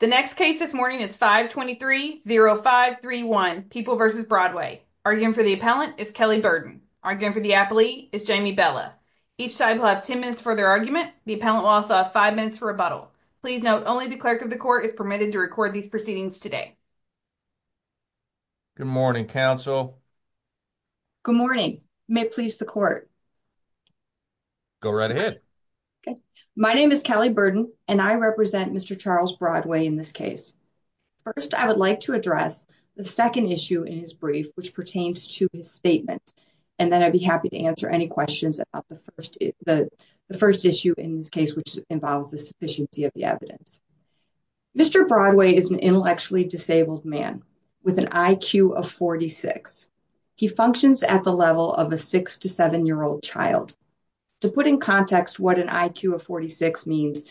The next case this morning is 523-0531, People v. Broadway. Arguing for the appellant is Kelly Burden. Arguing for the appellee is Jamie Bella. Each side will have 10 minutes for their argument. The appellant will also have 5 minutes for rebuttal. Please note, only the clerk of the court is permitted to record these proceedings today. Good morning, counsel. Good morning. May it please the court. Go right ahead. My name is Kelly Burden, and I represent Mr. Charles Broadway in this case. First, I would like to address the second issue in his brief, which pertains to his statement, and then I'd be happy to answer any questions about the first issue in this case, which involves the sufficiency of the evidence. Mr. Broadway is an intellectually disabled man with an IQ of 46. He functions at the level of a six- to seven-year-old child. To put in context what an IQ of 46 means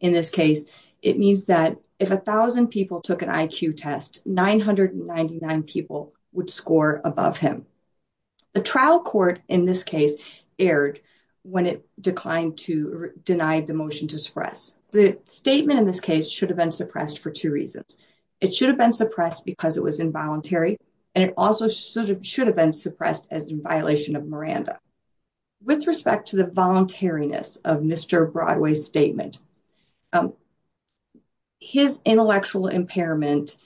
in this case, it means that if 1,000 people took an IQ test, 999 people would score above him. A trial court in this case erred when it declined to deny the motion to suppress. The statement in this case should have been suppressed for two reasons. It should have been suppressed because it was involuntary, and it also should have been suppressed as in violation of Miranda. With respect to the voluntariness of Mr. Broadway's statement, his intellectual impairment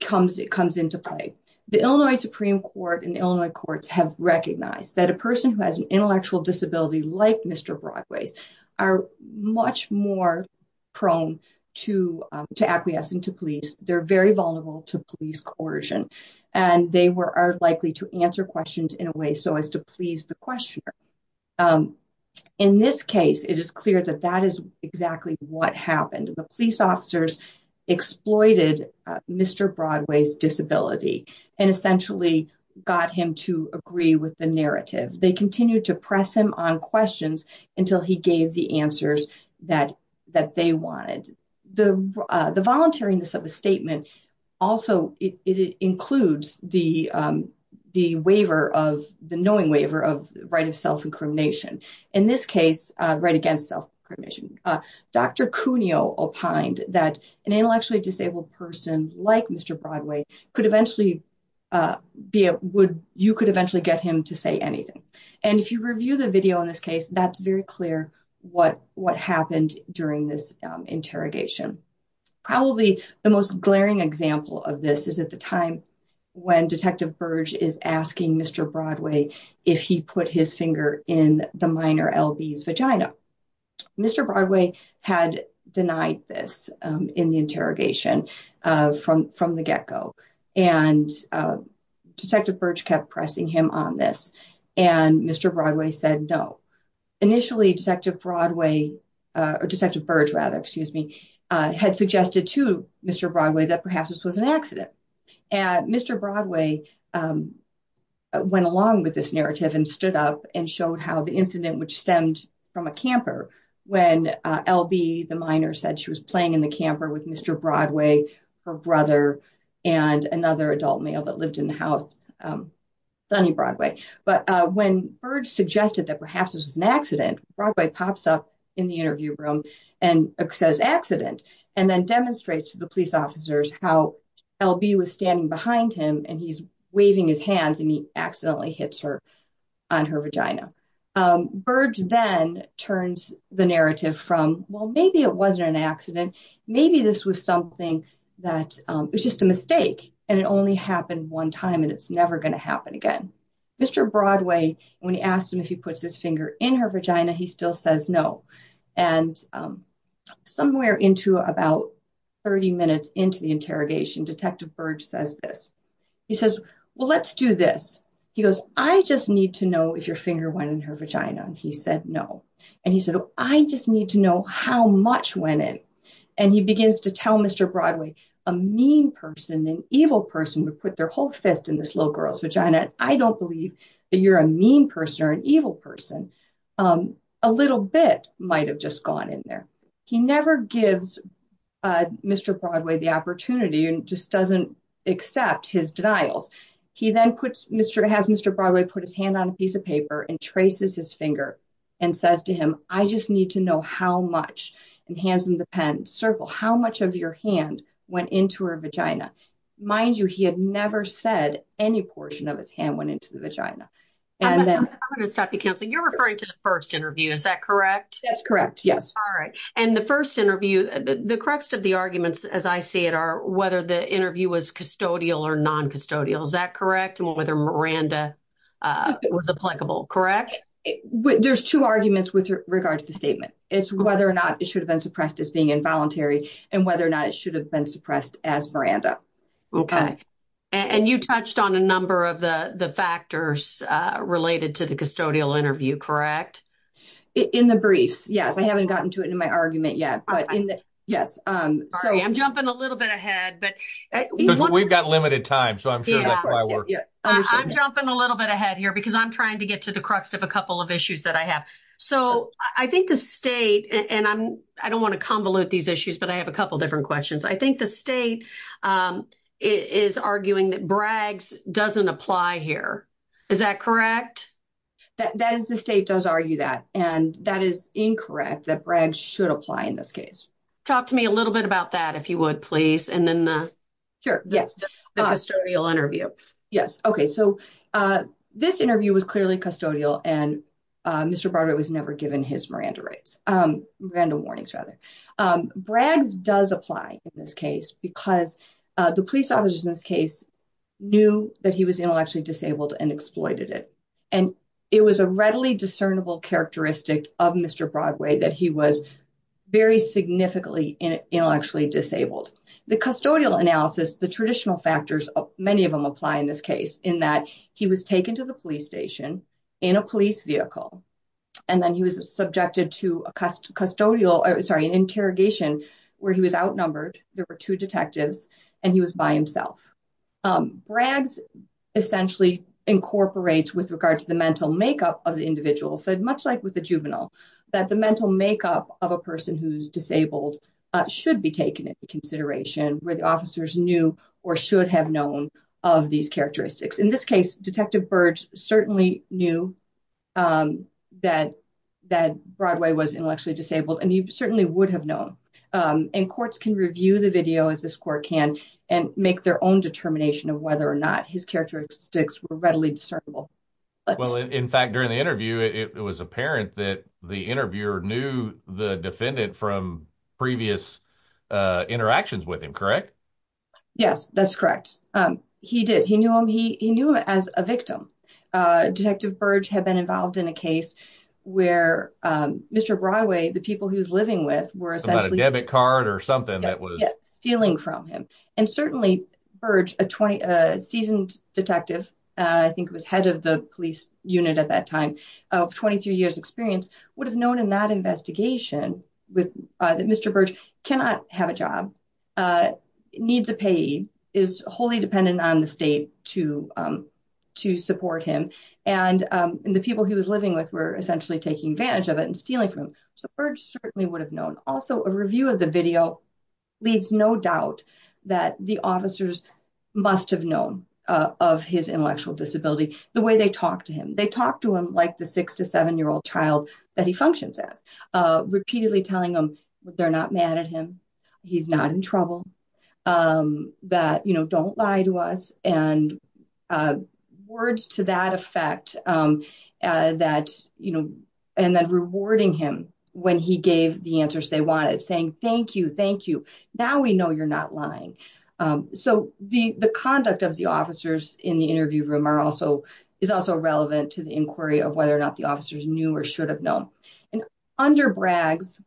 comes into play. The Illinois Supreme Court and Illinois courts have recognized that a person who has an intellectual disability like Mr. Broadway's are much more prone to acquiescing to police. They're very vulnerable to police coercion, and they are likely to answer questions in a way so as to please the questioner. In this case, it is clear that that is exactly what happened. The police officers exploited Mr. Broadway's disability and essentially got him to agree with the narrative. They continued to press him on questions until he gave the answers that they wanted. The voluntariness of the statement also includes the knowing waiver of right of self-incrimination. In this case, right against self-incrimination. Dr. Cuneo opined that an intellectually disabled person like Mr. Broadway, you could eventually get him to say anything. If you review the video in this case, that's very clear what happened during this interrogation. Probably the most glaring example of this is at the time when Detective Burge is asking Mr. Broadway if he put his finger in the minor LB's vagina. Mr. Broadway had denied this in the interrogation from the get-go. Detective Burge kept pressing him on this, and Mr. Broadway said no. Initially, Detective Burge had suggested to Mr. Broadway that perhaps this was an accident. Mr. Broadway went along with this narrative and stood up and showed how the incident, which stemmed from a camper, when LB, the minor, said she was playing in the camper with Mr. Broadway, her brother, and another adult male that lived in the house, Sonny Broadway. But when Burge suggested that perhaps this was an accident, Broadway pops up in the interview room and says accident, and then demonstrates to the police officers how LB was standing behind him, and he's waving his hands, and he accidentally hits her on her vagina. Burge then turns the narrative from, well, maybe it wasn't an accident. Maybe this was something that was just a mistake, and it only happened one time, and it's never going to happen again. Mr. Broadway, when he asked him if he puts his finger in her vagina, he still says no. And somewhere into about 30 minutes into the interrogation, Detective Burge says this. He says, well, let's do this. He goes, I just need to know if your finger went in her vagina, and he said no. And he said, I just need to know how much went in. And he begins to tell Mr. Broadway, a mean person, an evil person, would put their whole fist in this little girl's vagina, and I don't believe that you're a mean person or an evil person. A little bit might have just gone in there. He never gives Mr. Broadway the opportunity and just doesn't accept his denials. He then has Mr. Broadway put his hand on a piece of paper and traces his finger and says to him, I just need to know how much, and hands him the pen, circle, how much of your hand went into her vagina. Mind you, he had never said any portion of his hand went into the vagina. I'm going to stop you, Counselor. You're referring to the first interview. Is that correct? That's correct, yes. All right. And the first interview, the crux of the arguments, as I see it, are whether the interview was custodial or non-custodial. Is that correct? And whether Miranda was applicable, correct? There's two arguments with regard to the statement. It's whether or not it should have been suppressed as being involuntary and whether or not it should have been suppressed as Miranda. Okay. And you touched on a number of the factors related to the custodial interview, correct? In the briefs, yes. I haven't gotten to it in my argument yet. All right. I'm jumping a little bit ahead. We've got limited time, so I'm sure that might work. I'm jumping a little bit ahead here because I'm trying to get to the crux of a couple of issues that I have. So I think the state, and I don't want to convolute these issues, but I have a couple different questions. I think the state is arguing that Braggs doesn't apply here. Is that correct? The state does argue that, and that is incorrect, that Braggs should apply in this case. Talk to me a little bit about that, if you would, please. And then the custodial interview. Yes. Okay. So this interview was clearly custodial, and Mr. Broderick was never given his Miranda rights. Miranda warnings, rather. Braggs does apply in this case because the police officers in this case knew that he was intellectually disabled and exploited it. And it was a readily discernible characteristic of Mr. Broadway that he was very significantly intellectually disabled. The custodial analysis, the traditional factors, many of them apply in this case, in that he was taken to the police station in a police vehicle, and then he was subjected to a custodial, sorry, an interrogation where he was outnumbered. There were two detectives, and he was by himself. Braggs essentially incorporates, with regard to the mental makeup of the individual, said much like with the juvenile, that the mental makeup of a person who's disabled should be taken into consideration, where the officers knew or should have known of these characteristics. In this case, Detective Burge certainly knew that Broadway was intellectually disabled, and he certainly would have known. And courts can review the video, as this court can, and make their own determination of whether or not his characteristics were readily discernible. Well, in fact, during the interview, it was apparent that the interviewer knew the defendant from previous interactions with him, correct? Yes, that's correct. He did. He knew him. He knew him as a victim. Detective Burge had been involved in a case where Mr. Broadway, the people he was living with were essentially- A debit card or something that was- Yes, stealing from him. And certainly Burge, a seasoned detective, I think was head of the police unit at that time, of 23 years experience, would have known in that investigation that Mr. Burge cannot have a job, needs a payee, is wholly dependent on the state to support him, and the people he was living with were essentially taking advantage of it and stealing from him. So Burge certainly would have known. Also, a review of the video leaves no doubt that the officers must have known of his intellectual disability, the way they talked to him. They talked to him like the six- to seven-year-old child that he functions as, repeatedly telling them that they're not mad at him, he's not in trouble, that, you know, don't lie to us, and words to that effect that, you know, and then rewarding him when he gave the answers they wanted, saying, thank you, thank you. Now we know you're not lying. So the conduct of the officers in the interview room is also relevant to the inquiry of whether or not the officers knew or should have known. And under Bragg's,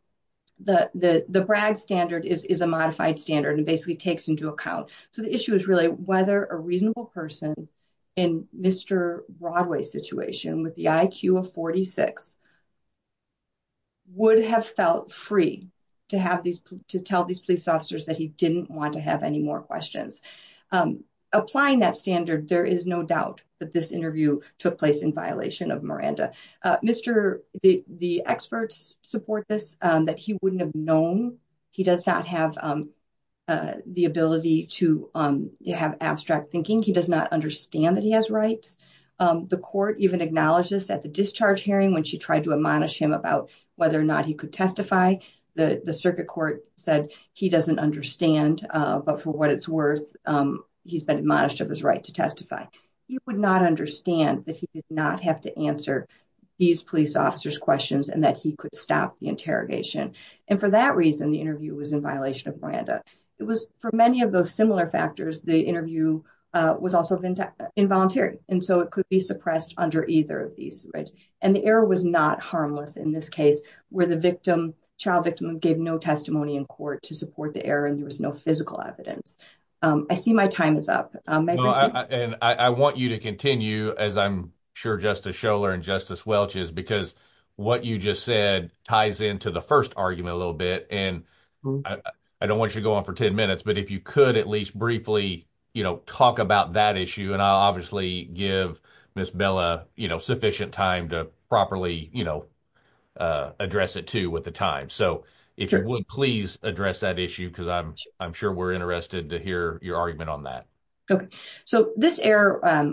the Bragg standard is a modified standard and basically takes into account. So the issue is really whether a reasonable person in Mr. Burge's Broadway situation, with the IQ of 46, would have felt free to tell these police officers that he didn't want to have any more questions. Applying that standard, there is no doubt that this interview took place in violation of Miranda. The experts support this, that he wouldn't have known. He does not have the ability to have abstract thinking. He does not understand that he has rights. The court even acknowledged this at the discharge hearing when she tried to admonish him about whether or not he could testify. The circuit court said he doesn't understand, but for what it's worth, he's been admonished of his right to testify. He would not understand that he did not have to answer these police officers questions and that he could stop the interrogation. And for that reason, the interview was in violation of Miranda. It was for many of those similar factors. The interview was also involuntary, and so it could be suppressed under either of these rights. And the error was not harmless in this case, where the child victim gave no testimony in court to support the error and there was no physical evidence. I see my time is up. And I want you to continue, as I'm sure Justice Scholar and Justice Welch is, because what you just said ties into the first argument a little bit. And I don't want you to go on for 10 minutes, but if you could at least briefly talk about that issue, and I'll obviously give Ms. Bella sufficient time to properly address it, too, with the time. So if you would, please address that issue, because I'm sure we're interested to hear your argument on that. Okay. So this error,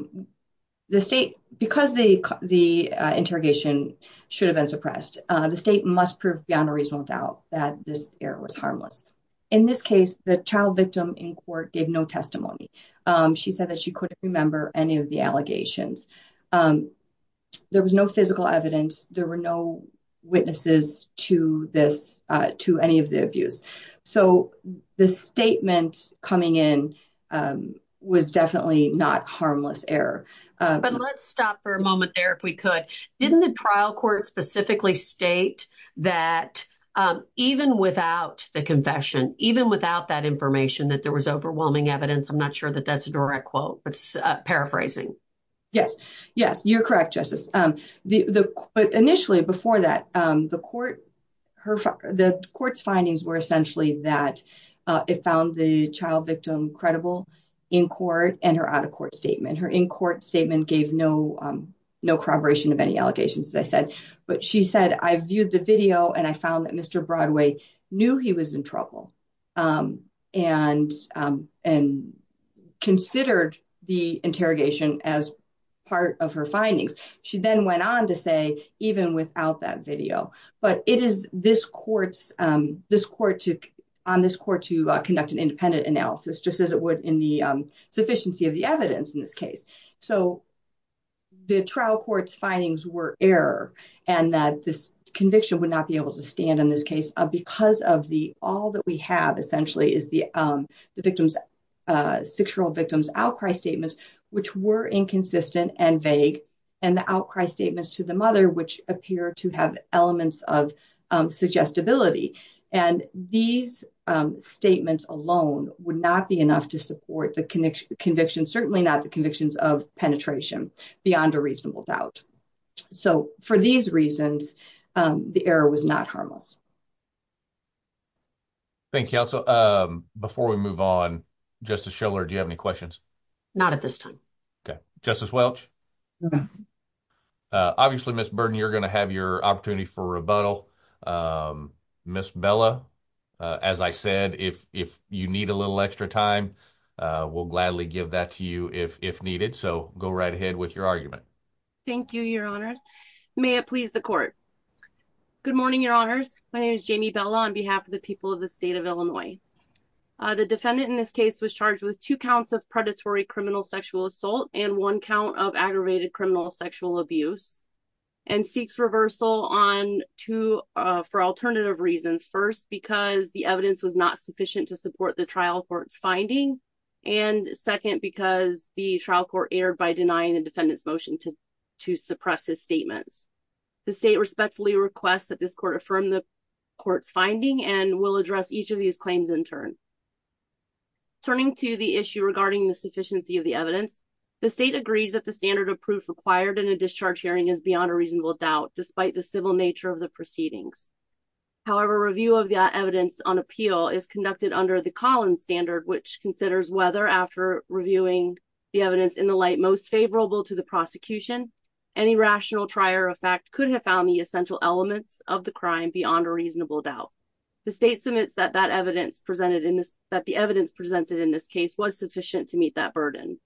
the state, because the interrogation should have been suppressed, the state must prove beyond a reasonable doubt that this error was harmless. In this case, the child victim in court gave no testimony. She said that she couldn't remember any of the allegations. There was no physical evidence. There were no witnesses to any of the abuse. So the statement coming in was definitely not harmless error. But let's stop for a moment there, if we could. Didn't the trial court specifically state that even without the confession, even without that information, that there was overwhelming evidence? I'm not sure that that's a direct quote, but paraphrasing. Yes. Yes, you're correct, Justice. Initially, before that, the court's findings were essentially that it found the child victim credible in court and her out-of-court statement. And her in-court statement gave no corroboration of any allegations, as I said. But she said, I viewed the video, and I found that Mr. Broadway knew he was in trouble and considered the interrogation as part of her findings. She then went on to say, even without that video. But it is this court's – on this court to conduct an independent analysis, just as it would in the sufficiency of the evidence in this case. So the trial court's findings were error and that this conviction would not be able to stand in this case because of the – all that we have essentially is the victim's – six-year-old victim's outcry statements, which were inconsistent and vague, and the outcry statements to the mother, which appear to have elements of suggestibility. And these statements alone would not be enough to support the conviction, certainly not the convictions of penetration beyond a reasonable doubt. So for these reasons, the error was not harmless. Thank you. Also, before we move on, Justice Schiller, do you have any questions? Not at this time. Okay. Justice Welch? No. Obviously, Ms. Burden, you're going to have your opportunity for rebuttal. Ms. Bella, as I said, if you need a little extra time, we'll gladly give that to you if needed. So go right ahead with your argument. Thank you, Your Honor. May it please the court. Good morning, Your Honors. My name is Jamie Bella on behalf of the people of the state of Illinois. The defendant in this case was charged with two counts of predatory criminal sexual assault and one count of aggravated criminal sexual abuse and seeks reversal on two for alternative reasons. First, because the evidence was not sufficient to support the trial court's finding. And second, because the trial court erred by denying the defendant's motion to suppress his statements. The state respectfully requests that this court affirm the court's finding and will address each of these claims in turn. Turning to the issue regarding the sufficiency of the evidence, the state agrees that the standard of proof required in a discharge hearing is beyond a reasonable doubt, despite the civil nature of the proceedings. However, review of the evidence on appeal is conducted under the Collins standard, which considers whether, after reviewing the evidence in the light most favorable to the prosecution, any rational trier of fact could have found the essential elements of the crime beyond a reasonable doubt. The state submits that the evidence presented in this case was sufficient to meet that burden.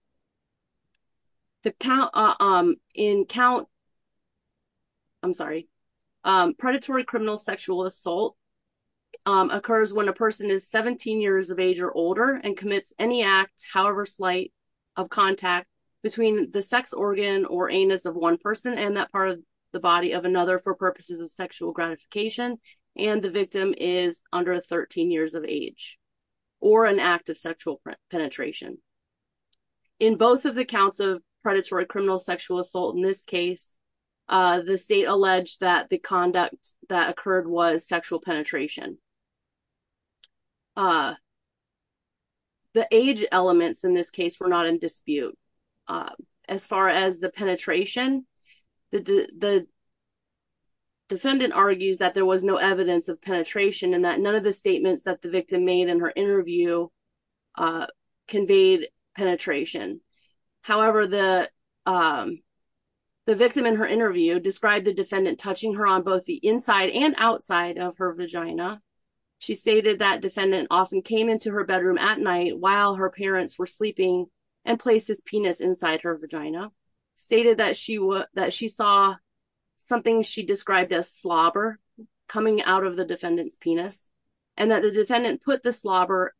Predatory criminal sexual assault occurs when a person is 17 years of age or older and commits any act, however slight, of contact between the sex organ or anus of one person and that part of the body of another for purposes of sexual gratification and the victim is under 13 years of age or an act of sexual penetration. In both of the counts of predatory criminal sexual assault in this case, the state alleged that the conduct that occurred was sexual penetration. The age elements in this case were not in dispute. As far as the penetration, the defendant argues that there was no evidence of penetration and that none of the statements that the victim made in her interview conveyed penetration. However, the victim in her interview described the defendant touching her on both the inside and outside of her vagina. She stated that defendant often came into her bedroom at night while her parents were sleeping and placed his penis inside her vagina. Stated that she saw something she described as slobber coming out of the defendant's penis and that the defendant put the slobber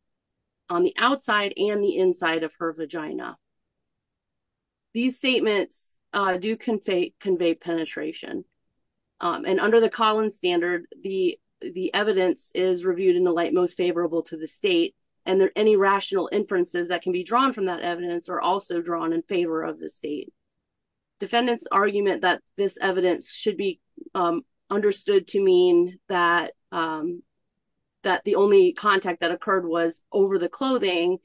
on the outside and the inside of her vagina. These statements do convey penetration and under the Collins standard, the evidence is reviewed in the light most favorable to the state and any rational inferences that can be drawn from that evidence are also drawn in favor of the state. Defendant's argument that this evidence should be understood to mean that the only contact that occurred was over the clothing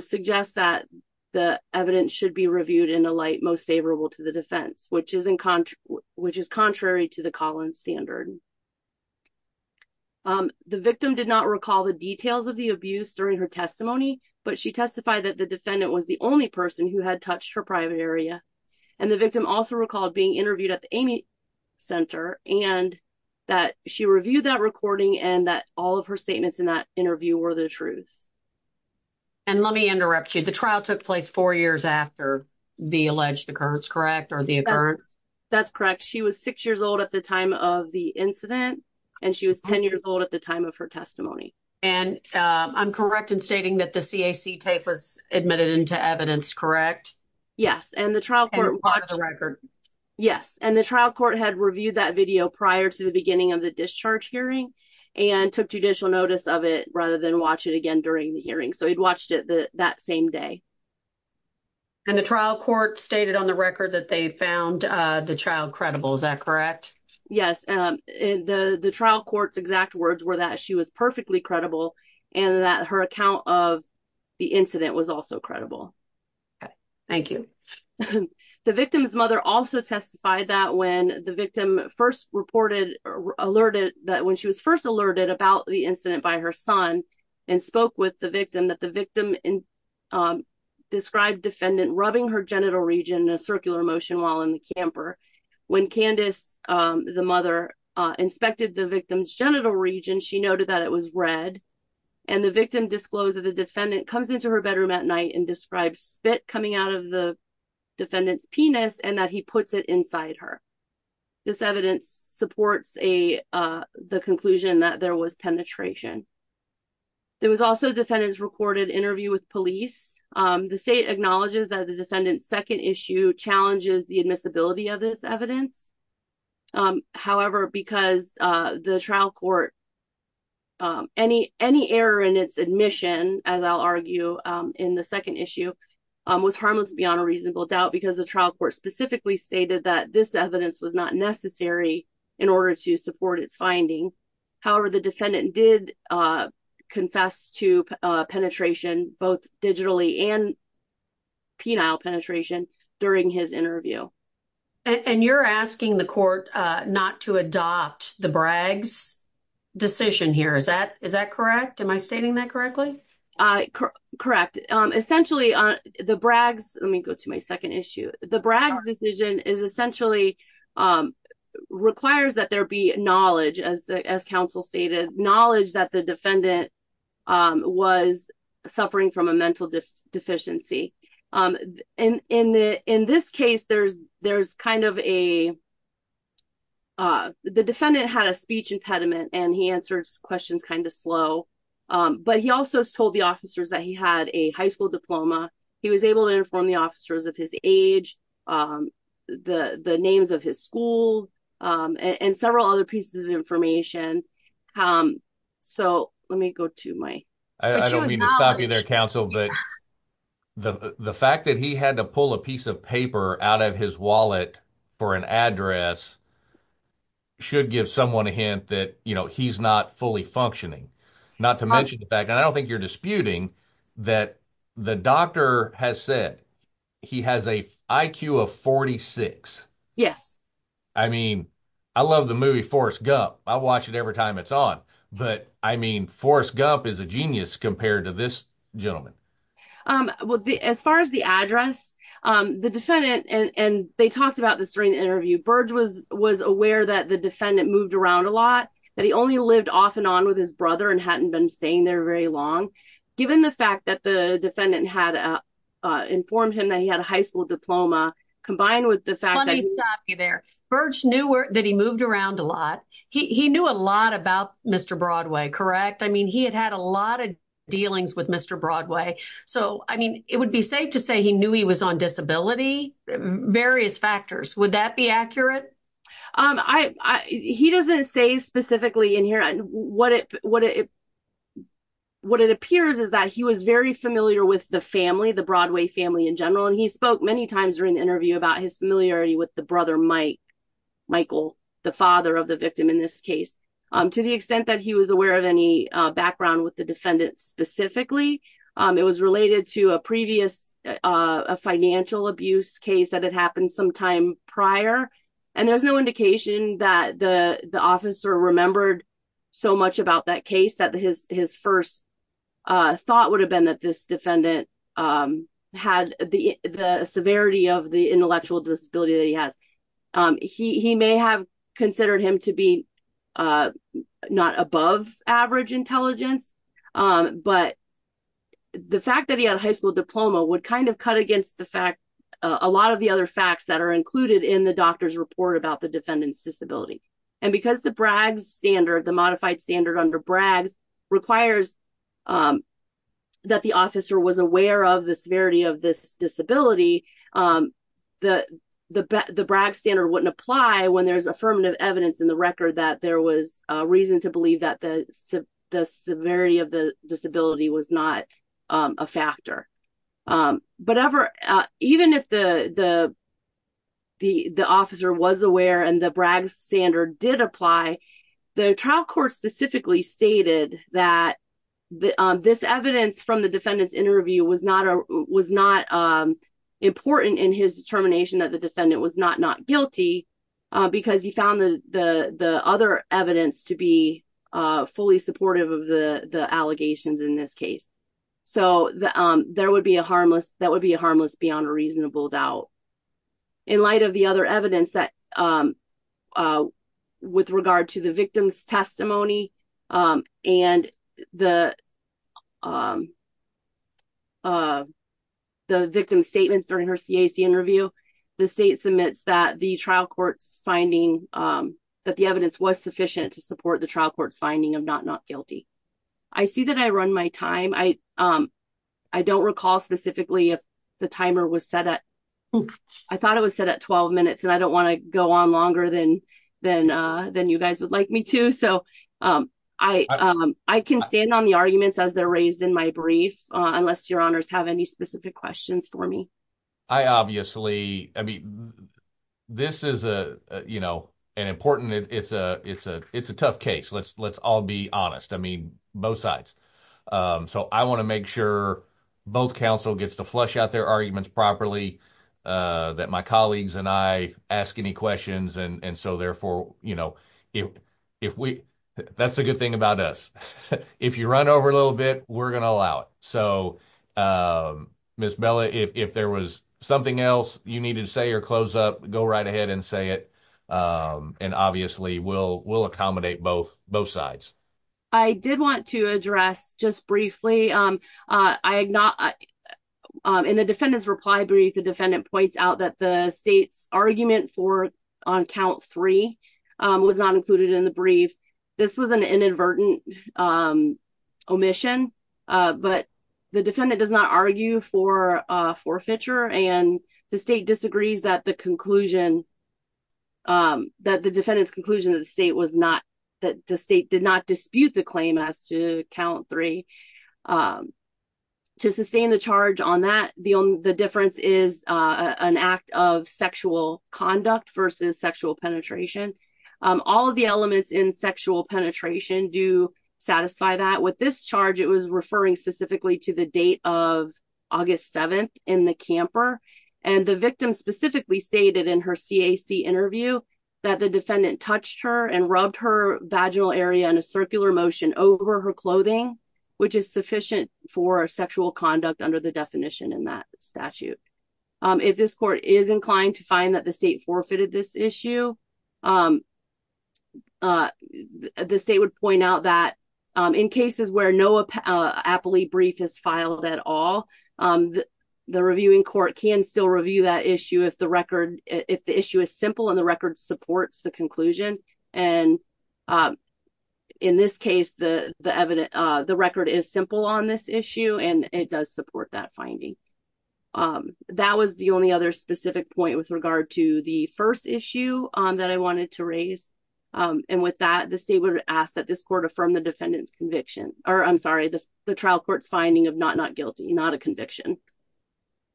suggests that the evidence should be reviewed in the light most favorable to the defense, which is contrary to the Collins standard. The victim did not recall the details of the abuse during her testimony, but she testified that the defendant was the only person who had touched her private area and the victim also recalled being interviewed at the Amy Center and that she reviewed that recording and that all of her statements in that interview were the truth. And let me interrupt you. The trial took place four years after the alleged occurrence, correct? That's correct. She was six years old at the time of the incident and she was 10 years old at the time of her testimony. And I'm correct in stating that the CAC tape was admitted into evidence, correct? Yes, and the trial court had reviewed that video prior to the beginning of the discharge hearing and took judicial notice of it rather than watch it again during the hearing. So he'd watched it that same day. And the trial court stated on the record that they found the child credible, is that correct? Yes, and the trial court's exact words were that she was perfectly credible and that her account of the incident was also credible. Thank you. The victim's mother also testified that when the victim first reported or alerted that when she was first alerted about the incident by her son and spoke with the victim that the victim described defendant rubbing her genital region in a circular motion while in the camper. When Candace, the mother, inspected the victim's genital region, she noted that it was red and the victim disclosed that the defendant comes into her bedroom at night and describes spit coming out of the defendant's penis and that he puts it inside her. This evidence supports the conclusion that there was penetration. There was also defendants recorded interview with police. The state acknowledges that the defendant's second issue challenges the admissibility of this evidence. However, because the trial court. Any any error in its admission, as I'll argue in the second issue, was harmless beyond a reasonable doubt, because the trial court specifically stated that this evidence was not necessary in order to support its finding. However, the defendant did confess to penetration, both digitally and penile penetration during his interview. And you're asking the court not to adopt the Braggs decision here. Is that is that correct? Am I stating that correctly? Correct. Essentially, the Braggs. Let me go to my second issue. The Braggs decision is essentially requires that there be knowledge, as the as counsel stated, knowledge that the defendant was suffering from a mental deficiency. And in the in this case, there's there's kind of a. The defendant had a speech impediment and he answered questions kind of slow, but he also told the officers that he had a high school diploma. He was able to inform the officers of his age, the names of his school and several other pieces of information. So let me go to my I don't mean to stop you there, counsel. But the fact that he had to pull a piece of paper out of his wallet for an address. Should give someone a hint that, you know, he's not fully functioning. Not to mention the fact that I don't think you're disputing that the doctor has said he has a IQ of 46. Yes. I mean, I love the movie Forrest Gump. I watch it every time it's on. But I mean, Forrest Gump is a genius compared to this gentleman. Well, as far as the address, the defendant and they talked about this during the interview. Burge was was aware that the defendant moved around a lot, that he only lived off and on with his brother and hadn't been staying there very long. Given the fact that the defendant had informed him that he had a high school diploma combined with the fact that he's there. Burge knew that he moved around a lot. He knew a lot about Mr. Broadway. Correct. I mean, he had had a lot of dealings with Mr. Broadway. So, I mean, it would be safe to say he knew he was on disability. Various factors. Would that be accurate? He doesn't say specifically in here what it what it what it appears is that he was very familiar with the family, the Broadway family in general, and he spoke many times during the interview about his familiarity with the brother, Mike, Michael, the father of the victim in this case, to the extent that he was aware of any background with the defendant specifically. It was related to a previous financial abuse case that had happened some time prior. And there's no indication that the officer remembered so much about that case that his his first thought would have been that this defendant had the severity of the intellectual disability that he has. He may have considered him to be not above average intelligence, but the fact that he had a high school diploma would kind of cut against the fact a lot of the other facts that are included in the doctor's report about the defendant's disability. And because the Bragg's standard, the modified standard under Bragg's requires that the officer was aware of the severity of this disability, the Bragg's standard wouldn't apply when there's affirmative evidence in the record that there was reason to believe that the severity of the disability was not a factor. But even if the the the the officer was aware and the Bragg's standard did apply, the trial court specifically stated that this evidence from the defendant's interview was not was not important in his determination that the defendant was not not guilty because he found the other evidence to be fully supportive of the allegations in this case. So there would be a harmless that would be a harmless beyond a reasonable doubt. In light of the other evidence that with regard to the victim's testimony and the the victim's statements during her CAC interview, the state submits that the trial court's finding that the evidence was sufficient to support the trial court's finding of not not guilty. I see that I run my time. I I don't recall specifically if the timer was set up. I thought it was set at 12 minutes and I don't want to go on longer than than than you guys would like me to. So I I can stand on the arguments as they're raised in my brief, unless your honors have any specific questions for me. I obviously I mean, this is a you know, an important it's a it's a it's a tough case. Let's let's all be honest. I mean, both sides. So I want to make sure both counsel gets to flush out their arguments properly that my colleagues and I ask any questions. And so therefore, you know, if if we that's a good thing about us, if you run over a little bit, we're going to allow it. So, Miss Bella, if there was something else you needed to say or close up, go right ahead and say it. And obviously we'll we'll accommodate both both sides. I did want to address just briefly. I am not in the defendant's reply brief. The defendant points out that the state's argument for on count three was not included in the brief. This was an inadvertent omission, but the defendant does not argue for forfeiture and the state disagrees that the conclusion. That the defendant's conclusion of the state was not that the state did not dispute the claim as to count three to sustain the charge on that. The only the difference is an act of sexual conduct versus sexual penetration. All of the elements in sexual penetration do satisfy that with this charge. It was referring specifically to the date of August 7th in the camper. And the victim specifically stated in her CAC interview that the defendant touched her and rubbed her vaginal area in a circular motion over her clothing, which is sufficient for sexual conduct under the definition in that statute. If this court is inclined to find that the state forfeited this issue, the state would point out that in cases where no appellee brief is filed at all, the reviewing court can still review that issue if the record if the issue is simple and the record supports the conclusion. And in this case, the the record is simple on this issue and it does support that finding. That was the only other specific point with regard to the first issue that I wanted to raise. And with that, the state would ask that this court affirm the defendant's conviction or I'm sorry, the trial court's finding of not not guilty, not a conviction.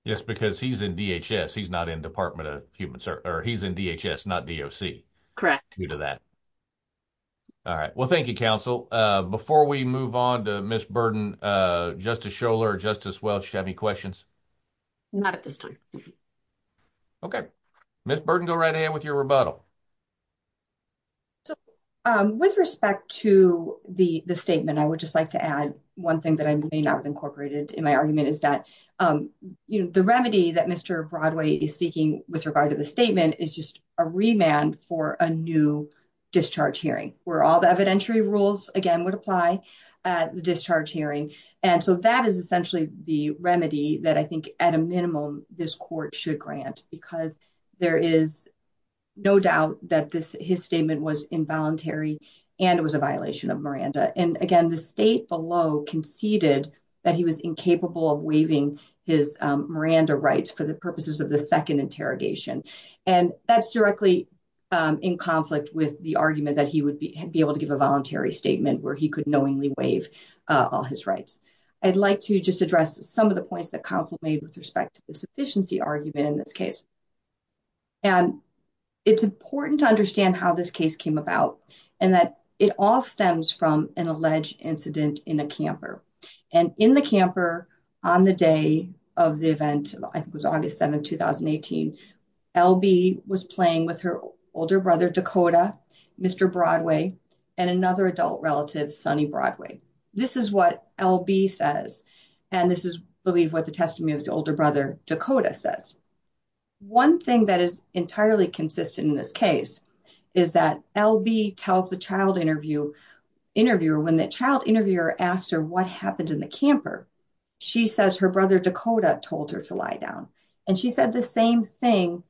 Yes, because he's in DHS, he's not in Department of Human or he's in DHS, not D.O.C. Correct. Due to that. All right. Well, thank you, counsel. Before we move on to Miss Burden, Justice Scholar, Justice Welch, do you have any questions? Not at this time. OK. Miss Burden, go right ahead with your rebuttal. So with respect to the statement, I would just like to add one thing that I may not have incorporated in my argument, is that the remedy that Mr. Broadway is seeking with regard to the statement is just a remand for a new discharge hearing where all the evidentiary rules again would apply at the discharge hearing. And so that is essentially the remedy that I think at a minimum this court should grant, because there is no doubt that this his statement was involuntary and it was a violation of Miranda. And again, the state below conceded that he was incapable of waiving his Miranda rights for the purposes of the second interrogation. And that's directly in conflict with the argument that he would be able to give a voluntary statement where he could knowingly waive all his rights. I'd like to just address some of the points that counsel made with respect to the sufficiency argument in this case. And it's important to understand how this case came about and that it all stems from an alleged incident in a camper and in the camper on the day of the event. I think it was August 7, 2018. L.B. was playing with her older brother Dakota, Mr. Broadway, and another adult relative, Sonny Broadway. This is what L.B. says, and this is, I believe, what the testimony of the older brother Dakota says. One thing that is entirely consistent in this case is that L.B. tells the child interviewer when the child interviewer asked her what happened in the camper. She says her brother Dakota told her to lie down, and she said the same thing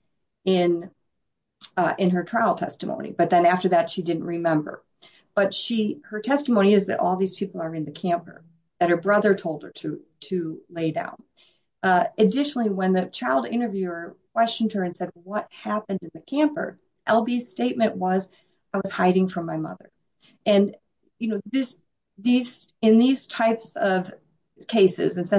in her trial testimony. But then after that, she didn't remember. But her testimony is that all these people are in the camper that her brother told her to lay down. Additionally, when the child interviewer questioned her and said what happened in the camper, L.B.'s statement was, I was hiding from my mother. In these types of cases,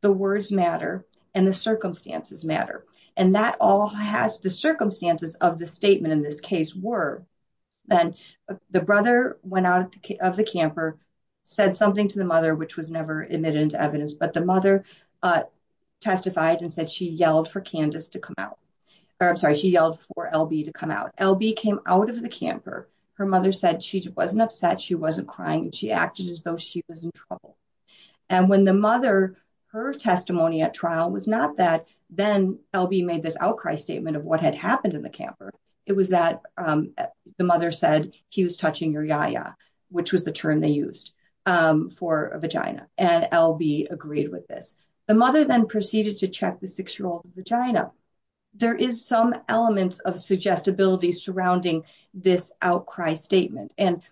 the words matter and the circumstances matter. The circumstances of the statement in this case were that the brother went out of the camper, said something to the mother, which was never admitted into evidence, but the mother testified and said she yelled for L.B. to come out. When L.B. came out of the camper, her mother said she wasn't upset, she wasn't crying, and she acted as though she was in trouble. And when the mother, her testimony at trial was not that then L.B. made this outcry statement of what had happened in the camper. It was that the mother said he was touching her yaya, which was the term they used for a vagina, and L.B. agreed with this. The mother then proceeded to check the six-year-old's vagina. There is some element of suggestibility surrounding this outcry statement. And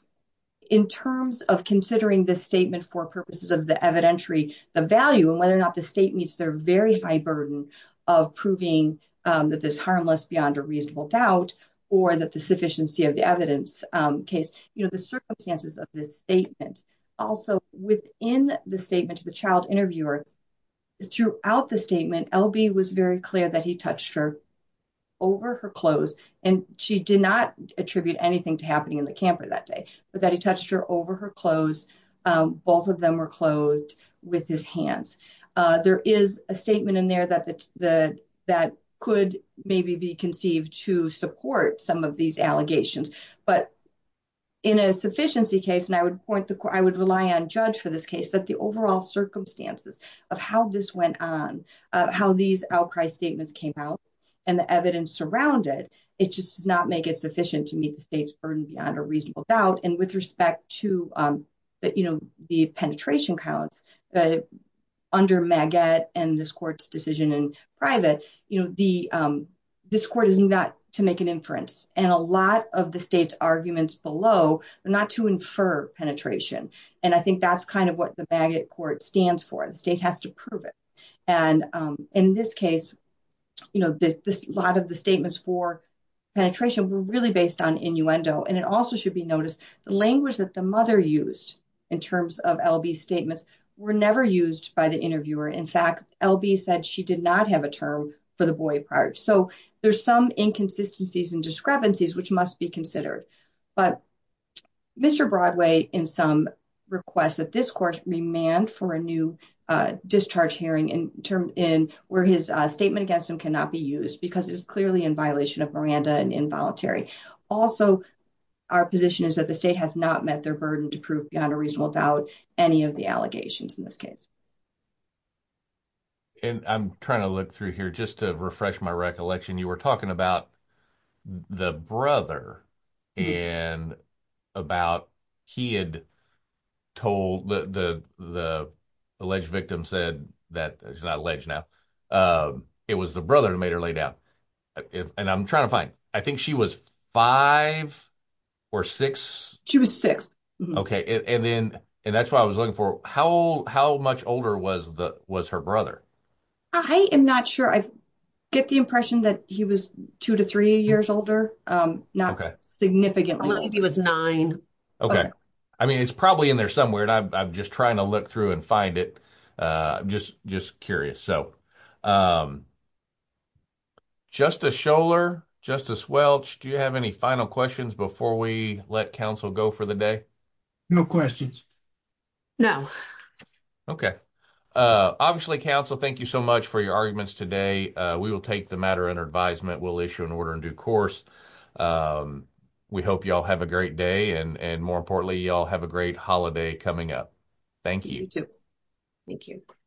in terms of considering this statement for purposes of the evidentiary, the value, and whether or not the state meets their very high burden of proving that this harmless beyond a reasonable doubt, or that the sufficiency of the evidence case, you know, the circumstances of this statement. Also, within the statement to the child interviewer, throughout the statement, L.B. was very clear that he touched her over her clothes. And she did not attribute anything to happening in the camper that day, but that he touched her over her clothes. Both of them were clothed with his hands. There is a statement in there that could maybe be conceived to support some of these allegations. But in a sufficiency case, and I would rely on judge for this case, that the overall circumstances of how this went on, how these outcry statements came out, and the evidence surrounded, it just does not make it sufficient to meet the state's burden beyond a reasonable doubt. And with respect to the penetration counts, under MAGET and this court's decision in private, this court is not to make an inference. And a lot of the state's arguments below are not to infer penetration. And I think that's kind of what the MAGET court stands for. The state has to prove it. And in this case, a lot of the statements for penetration were really based on innuendo. And it also should be noticed the language that the mother used in terms of L.B.'s statements were never used by the interviewer. In fact, L.B. said she did not have a term for the boy part. So there's some inconsistencies and discrepancies which must be considered. But Mr. Broadway, in some requests that this court remand for a new discharge hearing where his statement against him cannot be used because it is clearly in violation of Miranda and involuntary. Also, our position is that the state has not met their burden to prove beyond a reasonable doubt any of the allegations in this case. And I'm trying to look through here just to refresh my recollection. You were talking about the brother and about he had told the alleged victim said that it's not alleged now. It was the brother who made her lay down. And I'm trying to find I think she was five or six. She was six. Okay. And then and that's what I was looking for. How old how much older was the was her brother? I am not sure I get the impression that he was two to three years older. Not significantly. He was nine. I mean, it's probably in there somewhere. And I'm just trying to look through and find it. Just just curious. So Justice Scholar, Justice Welch, do you have any final questions before we let counsel go for the day? No questions. No. Okay. Obviously, counsel, thank you so much for your arguments today. We will take the matter under advisement. We'll issue an order in due course. We hope you all have a great day. And more importantly, you all have a great holiday coming up. Thank you. Thank you.